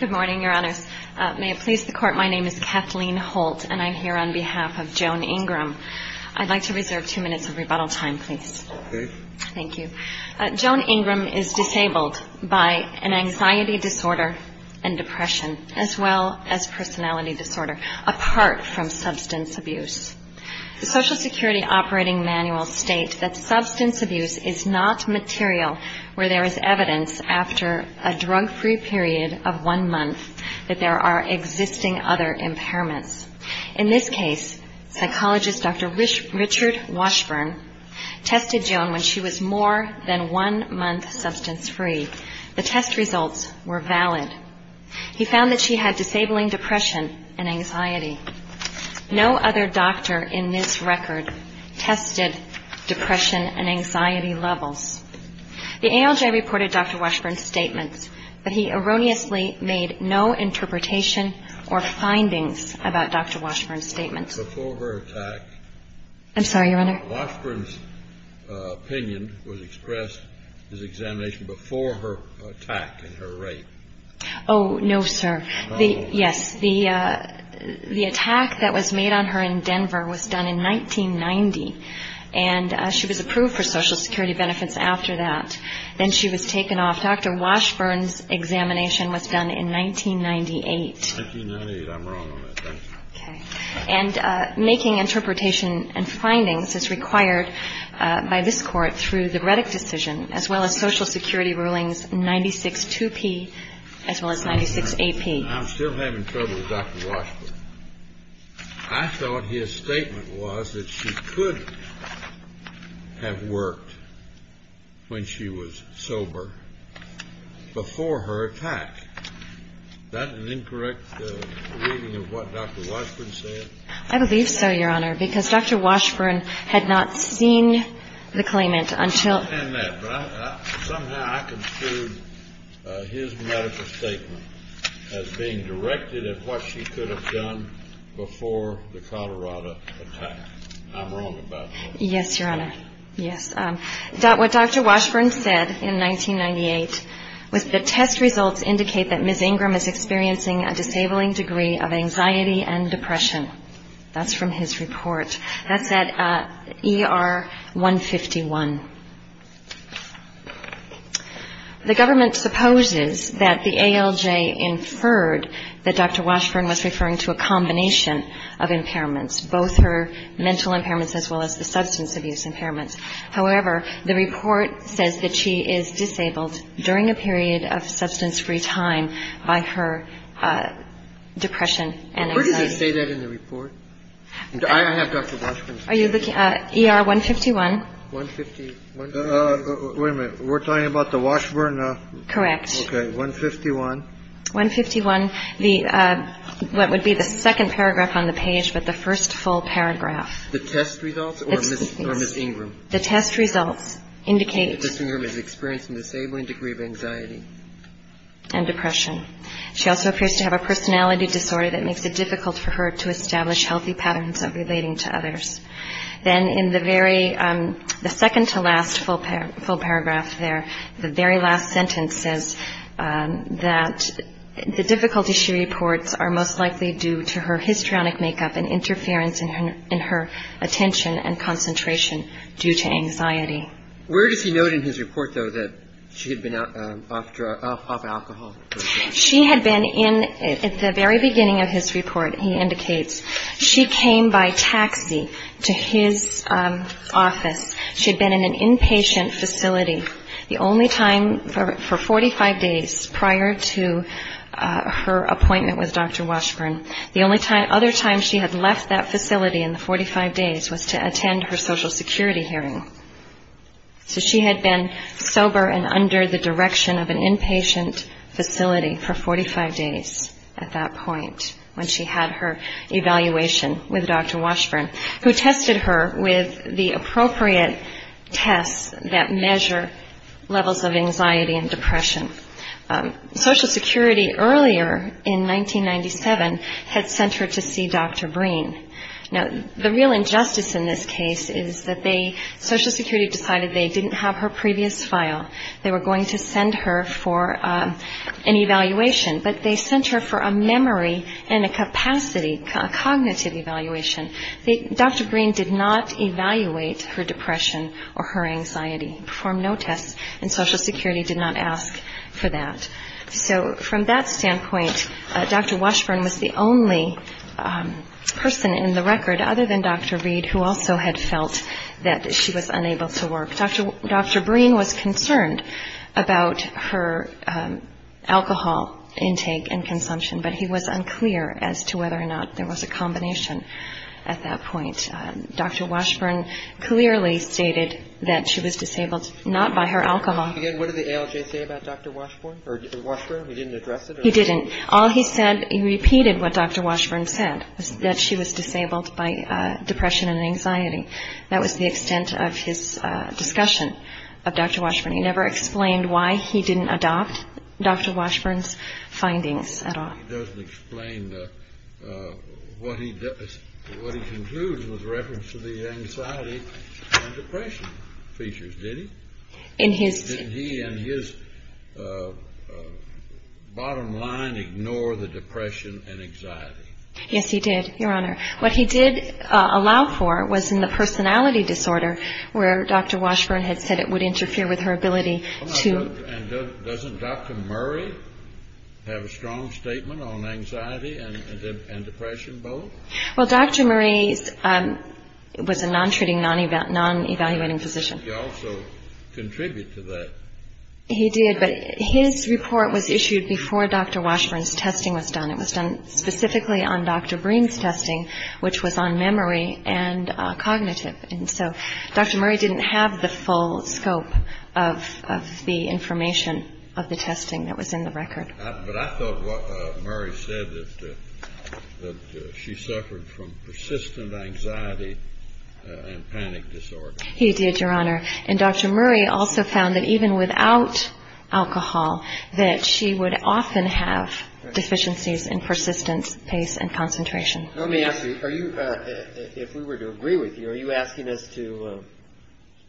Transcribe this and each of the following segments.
Good morning, Your Honors. May it please the Court, my name is Kathleen Holt and I'm here on behalf of Joan Ingram. I'd like to reserve two minutes of rebuttal time, please. Joan Ingram is disabled by an anxiety disorder and depression, as well as personality disorder, apart from substance abuse. The Social Security Operating Manual states that substance abuse is not material where there is evidence after a drug-free period of one month that there are existing other impairments. In this case, psychologist Dr. Richard Washburn tested Joan when she was more than one month substance-free. The test results were valid. He found that she had disabling depression and anxiety. No other doctor in this record tested depression and anxiety levels. The ALJ reported Dr. Washburn's statements, but he erroneously made no interpretation or findings about Dr. Washburn's statements. I'm sorry, Your Honor. Washburn's opinion was expressed in his examination before her attack and her rape. Oh, no, sir. Yes. The attack that was made on her in Denver was done in 1990, and she was approved for Social Security benefits after that. Then she was taken off. Dr. Washburn's examination was done in 1998. 1998. I'm wrong on that. Thank you. Okay. And making interpretation and findings is required by this Court through the Reddick decision, as well as Social Security rulings 96-2P as well as 96-8P. I'm still having trouble with Dr. Washburn. I thought his statement was that she could have worked when she was sober before her attack. Is that an incorrect reading of what Dr. Washburn said? I believe so, Your Honor, because Dr. Washburn had not seen the claimant until – being directed at what she could have done before the Colorado attack. I'm wrong about that. Yes, Your Honor. Yes. What Dr. Washburn said in 1998 was the test results indicate that Ms. Ingram is experiencing a disabling degree of anxiety and depression. That's from his report. That's at ER 151. The government supposes that the ALJ inferred that Dr. Washburn was referring to a combination of impairments, both her mental impairments as well as the substance abuse impairments. However, the report says that she is disabled during a period of substance-free time by her depression and anxiety. Where does it say that in the report? I have Dr. Washburn's name. Are you looking at ER 151? Wait a minute. We're talking about the Washburn? Correct. Okay. 151. 151, what would be the second paragraph on the page, but the first full paragraph. The test results or Ms. Ingram? The test results indicate that Ms. Ingram is experiencing a disabling degree of anxiety and depression. She also appears to have a personality disorder that makes it difficult for her to establish healthy patterns of relating to others. Then in the very second to last full paragraph there, the very last sentence says that the difficulty she reports are most likely due to her histrionic makeup and interference in her attention and concentration due to anxiety. Where does he note in his report, though, that she had been off alcohol? She had been in at the very beginning of his report, he indicates. She came by taxi to his office. She had been in an inpatient facility the only time for 45 days prior to her appointment with Dr. Washburn. The only other time she had left that facility in the 45 days was to attend her Social Security hearing. So she had been sober and under the direction of an inpatient facility for 45 days at that point when she had her evaluation with Dr. Washburn, who tested her with the appropriate tests that measure levels of anxiety and depression. Social Security earlier in 1997 had sent her to see Dr. Breen. Now, the real injustice in this case is that they, Social Security decided they didn't have her previous file. They were going to send her for an evaluation, but they sent her for a memory and a capacity, a cognitive evaluation. Dr. Breen did not evaluate her depression or her anxiety, performed no tests, and Social Security did not ask for that. So from that standpoint, Dr. Washburn was the only person in the record other than Dr. Reed who also had felt that she was unable to work. Dr. Breen was concerned about her alcohol intake and consumption, but he was unclear as to whether or not there was a combination at that point. Dr. Washburn clearly stated that she was disabled not by her alcohol. Again, what did the ALJ say about Dr. Washburn? He didn't address it? He didn't. All he said, he repeated what Dr. Washburn said, that she was disabled by depression and anxiety. That was the extent of his discussion of Dr. Washburn. He never explained why he didn't adopt Dr. Washburn's findings at all. He doesn't explain what he concludes with reference to the anxiety and depression features, did he? Didn't he and his bottom line ignore the depression and anxiety? Yes, he did, Your Honor. What he did allow for was in the personality disorder where Dr. Washburn had said it would interfere with her ability to Doesn't Dr. Murray have a strong statement on anxiety and depression both? Well, Dr. Murray was a non-treating, non-evaluating physician. Did he also contribute to that? He did, but his report was issued before Dr. Washburn's testing was done. It was done specifically on Dr. Breen's testing, which was on memory and cognitive. And so Dr. Murray didn't have the full scope of the information of the testing that was in the record. But I thought what Murray said, that she suffered from persistent anxiety and panic disorder. He did, Your Honor. And Dr. Murray also found that even without alcohol, that she would often have deficiencies in persistence, pace and concentration. Let me ask you, if we were to agree with you, are you asking us to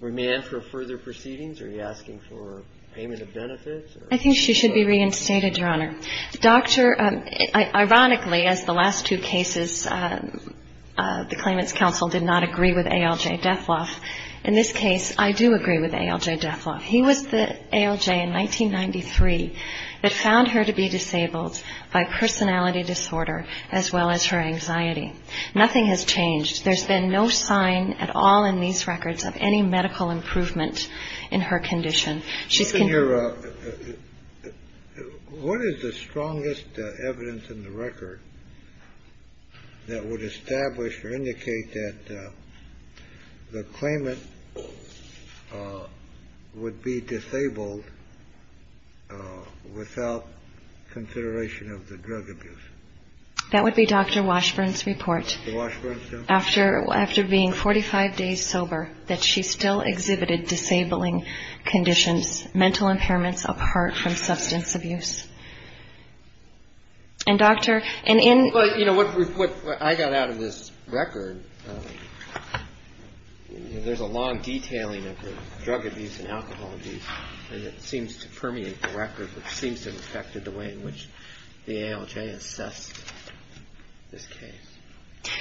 remand for further proceedings? Are you asking for payment of benefits? I think she should be reinstated, Your Honor. Ironically, as the last two cases, the Claimants Council did not agree with ALJ Dethloff. In this case, I do agree with ALJ Dethloff. He was the ALJ in 1993 that found her to be disabled by personality disorder as well as her anxiety. Nothing has changed. There's been no sign at all in these records of any medical improvement in her condition. What is the strongest evidence in the record that would establish or indicate that the claimant would be disabled without consideration of the drug abuse? That would be Dr. Washburn's report. After being 45 days sober, that she still exhibited disabling conditions, mental impairments apart from substance abuse. You know, what I got out of this record, there's a long detailing of the drug abuse and alcohol abuse, and it seems to permeate the record, which seems to have affected the way in which the ALJ assessed this case.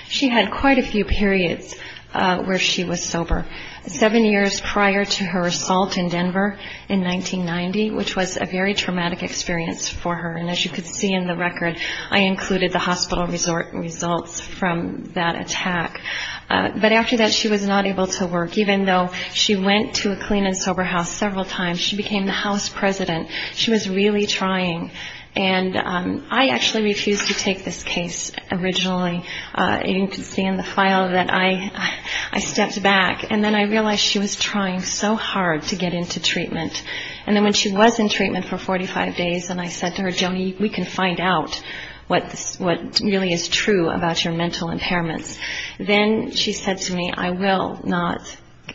She had quite a few periods where she was sober. Seven years prior to her assault in Denver in 1990, which was a very traumatic experience for her. And as you can see in the record, I included the hospital results from that attack. But after that, she was not able to work. Even though she went to a clean and sober house several times, she became the house president. She was really trying. And I actually refused to take this case originally. You can see in the file that I stepped back. And then I realized she was trying so hard to get into treatment. And then when she was in treatment for 45 days, and I said to her, Jody, we can find out what really is true about your mental impairments. Then she said to me, I will not.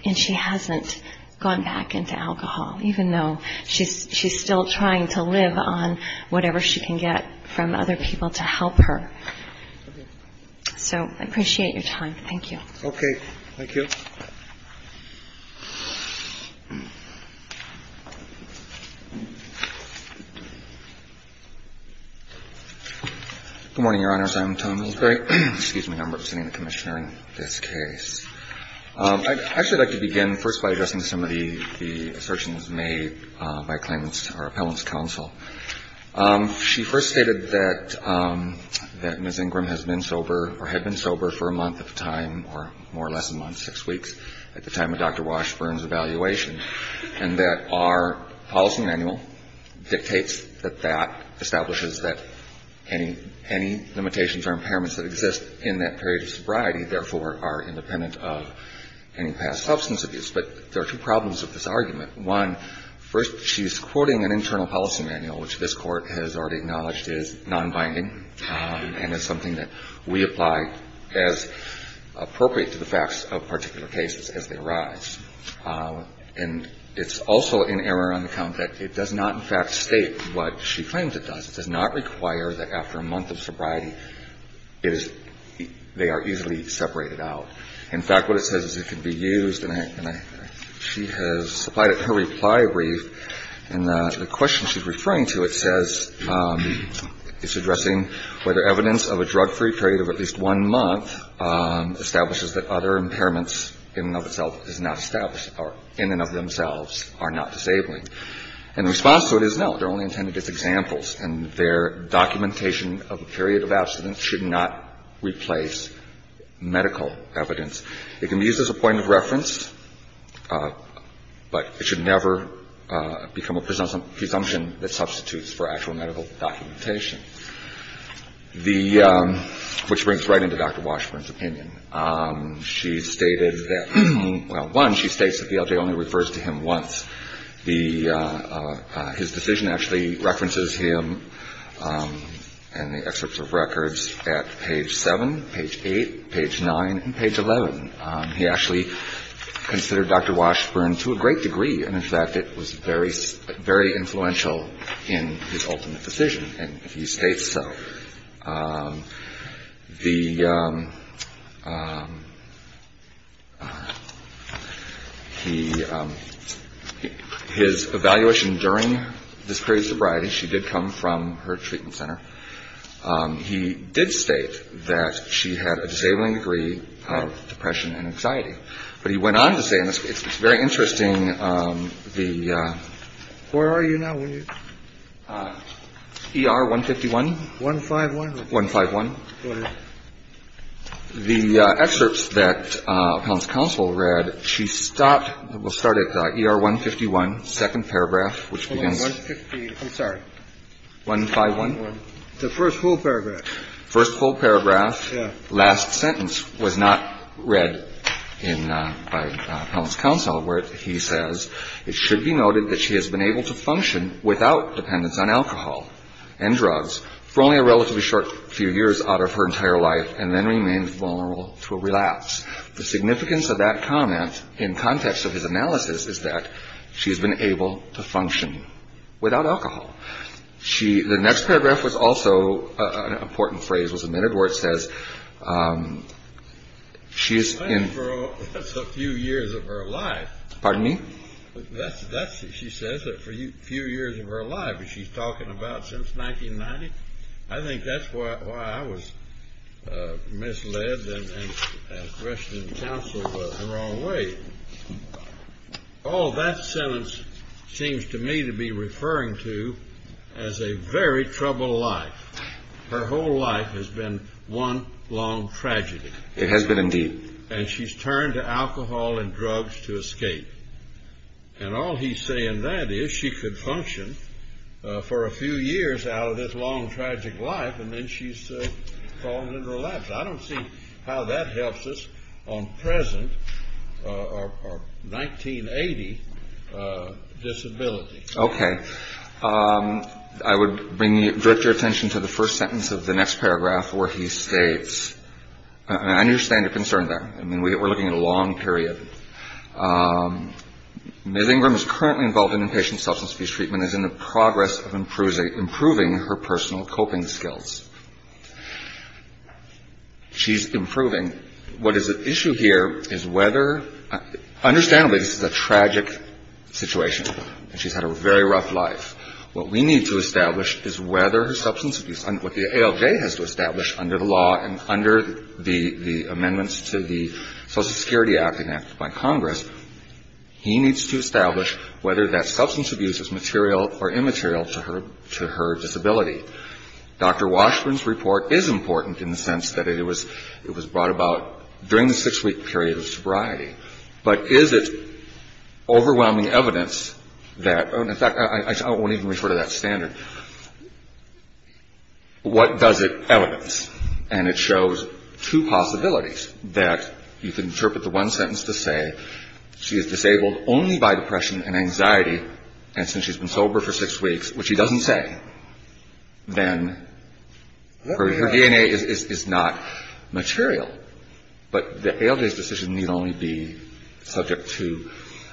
And she hasn't gone back into alcohol, even though she's still trying to live on whatever she can get from other people to help her. So I appreciate your time. Thank you. Thank you. Good morning, Your Honors. I'm Tom Hillsbury. Excuse me. I'm representing the commissioner in this case. I'd actually like to begin first by addressing some of the assertions made by claimants or appellants counsel. She first stated that Ms. Ingram had been sober for a month at a time, or more or less a month, six weeks, at the time of Dr. Washburn's evaluation, and that our policy manual dictates that that establishes that any limitations or impairments that exist in that period of sobriety, therefore, are independent of any past substance abuse. But there are two problems with this argument. One, first, she's quoting an internal policy manual, which this Court has already acknowledged is nonbinding and is something that we apply as appropriate to the facts of particular cases as they arise. And it's also in error on the count that it does not, in fact, state what she claims it does. It does not require that after a month of sobriety, they are easily separated out. In fact, what it says is it can be used, and she has supplied it in her reply brief, and the question she's referring to, it says it's addressing whether evidence of a drug-free period of at least one month establishes that other impairments in and of themselves is not established or in and of themselves are not disabling. And the response to it is, no, they're only intended as examples, and their documentation of a period of abstinence should not replace medical evidence. It can be used as a point of reference, but it should never become a presumption that substitutes for actual medical documentation. The – which brings right into Dr. Washburn's opinion. She's stated that – well, one, she states that VLJ only refers to him once. The – his decision actually references him in the excerpts of records at page 7, page 8, page 9, and page 11. He actually considered Dr. Washburn to a great degree, and in fact it was very – very influential in his ultimate decision, and he states so. The – he – his evaluation during this period of sobriety, she did come from her treatment center. He did state that she had a disabling degree of depression and anxiety. But he went on to say, and it's very interesting, the – where are you now? E.R. 151. 151? 151. Go ahead. The excerpts that Appellant's counsel read, she stopped – well, started E.R. 151, second paragraph, which begins – Hold on. 150 – I'm sorry. 151. The first full paragraph. First full paragraph. Yeah. Last sentence was not read in – by Appellant's counsel, where he says, It should be noted that she has been able to function without dependence on alcohol and drugs for only a relatively short few years out of her entire life, and then remained vulnerable to a relapse. The significance of that comment in context of his analysis is that she has been able to function without alcohol. She – the next paragraph was also an important phrase, was admitted, where it says she is in – That's a few years of her life. Pardon me? That's – she says a few years of her life. Is she talking about since 1990? I think that's why I was misled and questioned counsel the wrong way. Oh, that sentence seems to me to be referring to as a very troubled life. Her whole life has been one long tragedy. It has been, indeed. And she's turned to alcohol and drugs to escape. And all he's saying that is she could function for a few years out of this long, tragic life, and then she's fallen into a lapse. I don't see how that helps us on present or 1980 disability. Okay. I would bring – direct your attention to the first sentence of the next paragraph, where he states – I understand your concern there. I mean, we're looking at a long period. Ms. Ingram is currently involved in inpatient substance abuse treatment and is in the progress of improving her personal coping skills. She's improving. What is at issue here is whether – understandably, this is a tragic situation, and she's had a very rough life. What we need to establish is whether her substance abuse – what the ALJ has to establish under the law and under the amendments to the Social Security Act enacted by Congress, he needs to establish whether that substance abuse is material or immaterial to her disability. Dr. Washburn's report is important in the sense that it was brought about during the six-week period of sobriety. But is it overwhelming evidence that – in fact, I won't even refer to that standard. What does it evidence? And it shows two possibilities, that you can interpret the one sentence to say she is disabled only by depression and anxiety, and since she's been sober for six weeks, which he doesn't say, then her DNA is not material. But the ALJ's decision need only be subject to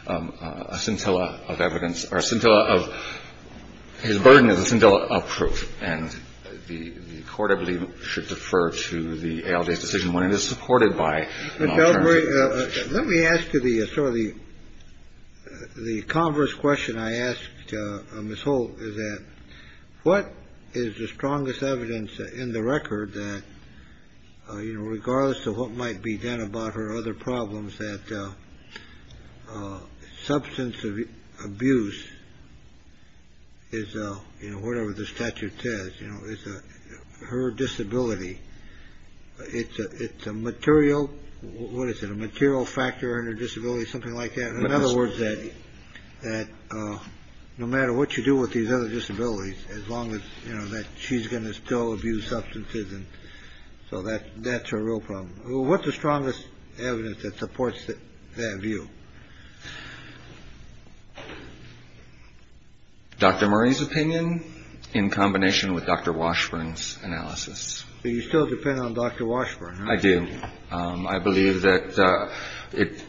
a scintilla of evidence or a scintilla of – his burden is a scintilla of proof. And the Court, I believe, should defer to the ALJ's decision when it is supported by an alternative. Let me ask you the sort of the – the converse question I asked Ms. Holt is that what is the strongest evidence in the record that, you know, regardless of what might be done about her other problems, that substance abuse is, you know, whatever the statute says, you know, is her disability. It's a material – what is it, a material factor in her disability, something like that? In other words, that no matter what you do with these other disabilities, as long as, you know, that she's going to still abuse substances and – so that's her real problem. What's the strongest evidence that supports that view? Dr. Murray's opinion in combination with Dr. Washburn's analysis. But you still depend on Dr. Washburn, right? I do. I believe that it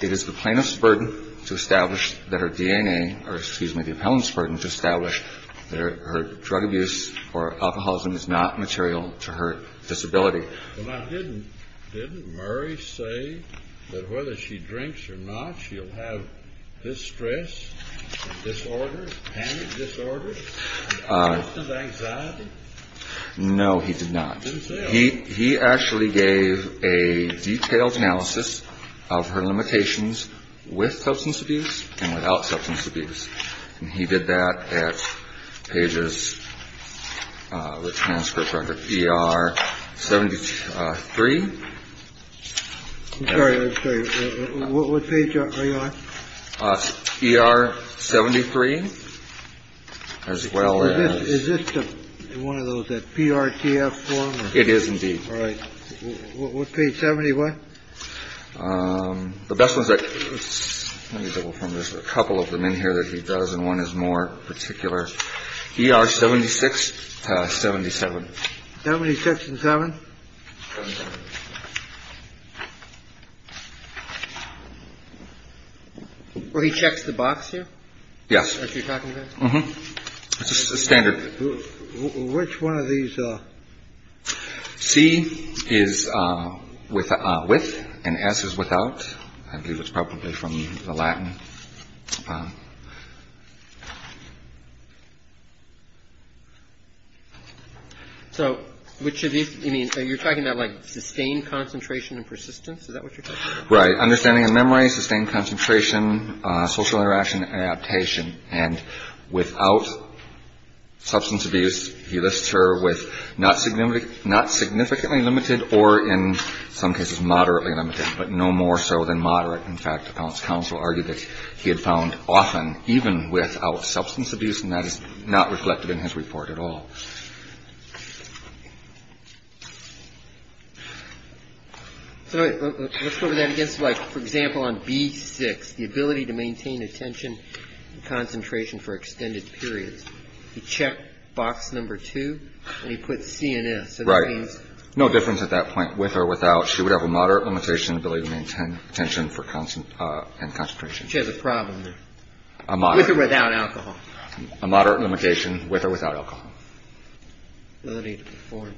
is the plaintiff's burden to establish that her DNA – or, excuse me, the appellant's burden to establish that her drug abuse or alcoholism is not material to her disability. Well, now, didn't – didn't Murray say that whether she drinks or not, she'll have distress, disorders, panic disorders, symptoms of anxiety? No, he did not. He didn't say that. He actually gave a detailed analysis of her limitations with substance abuse and without substance abuse. And he did that at pages – the transcript record, ER 73. I'm sorry. I'm sorry. What page are you on? ER 73, as well as – Is this one of those that PRTF form? It is, indeed. All right. What page – 71? The best ones that – let me double-check. There's a couple of them in here that he does, and one is more particular. ER 76, 77. 76 and 7? 77. He checks the box here? Yes. That's what you're talking about? Mm-hmm. It's a standard. Which one of these – C is with, and S is without. I believe it's probably from the Latin. So, which of these – you're talking about, like, sustained concentration and persistence? Is that what you're talking about? Right. Understanding and memory, sustained concentration, social interaction and adaptation. And without substance abuse, he lists her with not significantly limited or, in some cases, moderately limited, but no more so than moderate. In fact, the counsel argued that he had found often, even without substance abuse, and that is not reflected in his report at all. So let's put that against, like, for example, on B6, the ability to maintain attention and concentration for extended periods. He checked box number 2, and he put C and S. Right. So that means? No difference at that point. With or without, she would have a moderate limitation ability to maintain attention and concentration. She has a problem there. A moderate. With or without alcohol. A moderate limitation with or without alcohol. Ability to perform.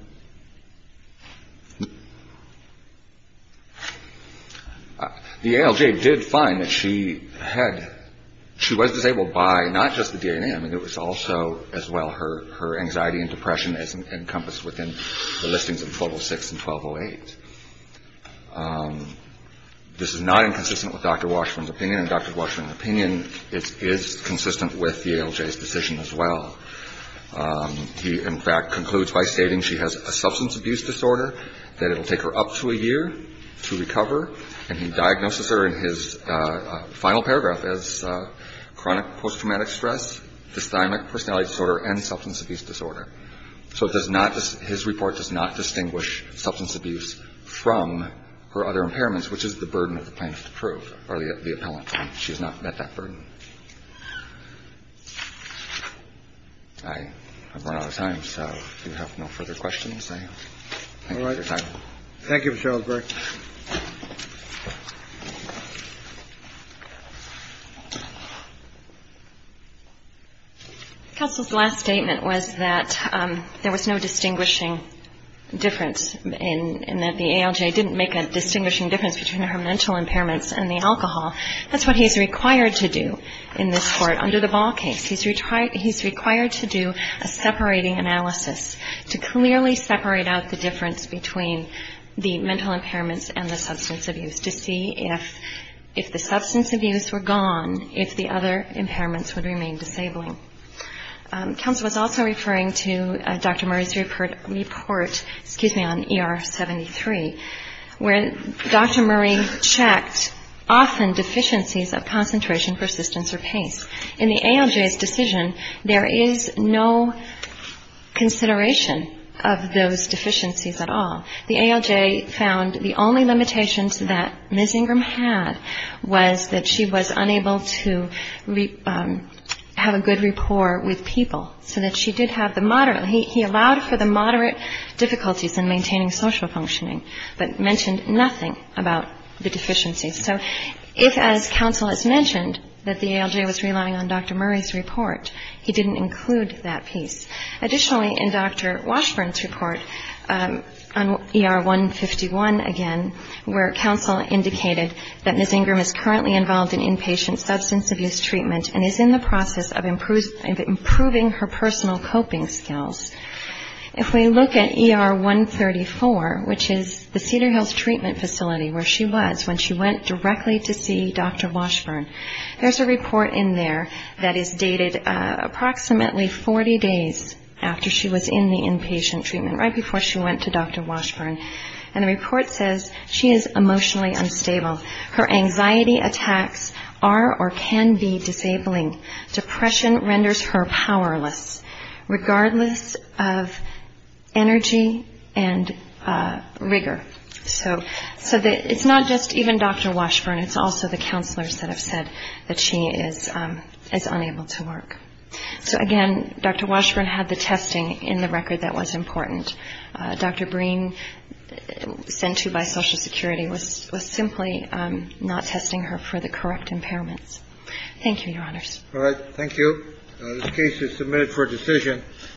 The ALJ did find that she had – she was disabled by not just the DNA. I mean, it was also, as well, her anxiety and depression as encompassed within the listings of 1206 and 1208. This is not inconsistent with Dr. Washburn's opinion, and Dr. Washburn's opinion is consistent with the ALJ's decision as well. He, in fact, concludes by stating she has a substance abuse disorder, that it will take her up to a year to recover, and he diagnoses her in his final paragraph as chronic post-traumatic stress, dysthymic personality disorder, and substance abuse disorder. So it does not – his report does not distinguish substance abuse from her other impairments, which is the burden of the plaintiff to prove, or the appellant. She has not met that burden. I have run out of time, so if you have no further questions, I have no other time. Thank you, Mr. Ellsberg. Counsel's last statement was that there was no distinguishing difference in that the ALJ didn't make a distinguishing difference between her mental impairments and the alcohol. That's what he's required to do in this Court under the Ball case. He's required to do a separating analysis to clearly separate out the difference between the mental impairments and the substance abuse to see if the substance abuse were gone, if the other impairments would remain disabling. Counsel was also referring to Dr. Murray's report on ER 73, where Dr. Murray checked often deficiencies of concentration, persistence, or pace. In the ALJ's decision, there is no consideration of those deficiencies at all. The ALJ found the only limitations that Ms. Ingram had was that she was unable to have a good rapport with people, so that she did have the moderate – he allowed for the moderate difficulties in maintaining social functioning, but mentioned nothing about the deficiencies. So if, as Counsel has mentioned, that the ALJ was relying on Dr. Murray's report, he didn't include that piece. Additionally, in Dr. Washburn's report on ER 151, again, where Counsel indicated that Ms. Ingram is currently involved in inpatient substance abuse treatment and is in the process of improving her personal coping skills, if we look at ER 134, which is the Cedar Hills Treatment Facility, where she was when she went directly to see Dr. Washburn, there's a report in there that is dated approximately 40 days after she was in the inpatient treatment, right before she went to Dr. Washburn, and the report says she is emotionally unstable. Her anxiety attacks are or can be disabling. Depression renders her powerless. Regardless of energy and rigor. So it's not just even Dr. Washburn, it's also the counselors that have said that she is unable to work. So again, Dr. Washburn had the testing in the record that was important. Dr. Breen, sent to by Social Security, was simply not testing her for the correct impairments. Thank you, Your Honors. All right. Thank you. The case is submitted for decision.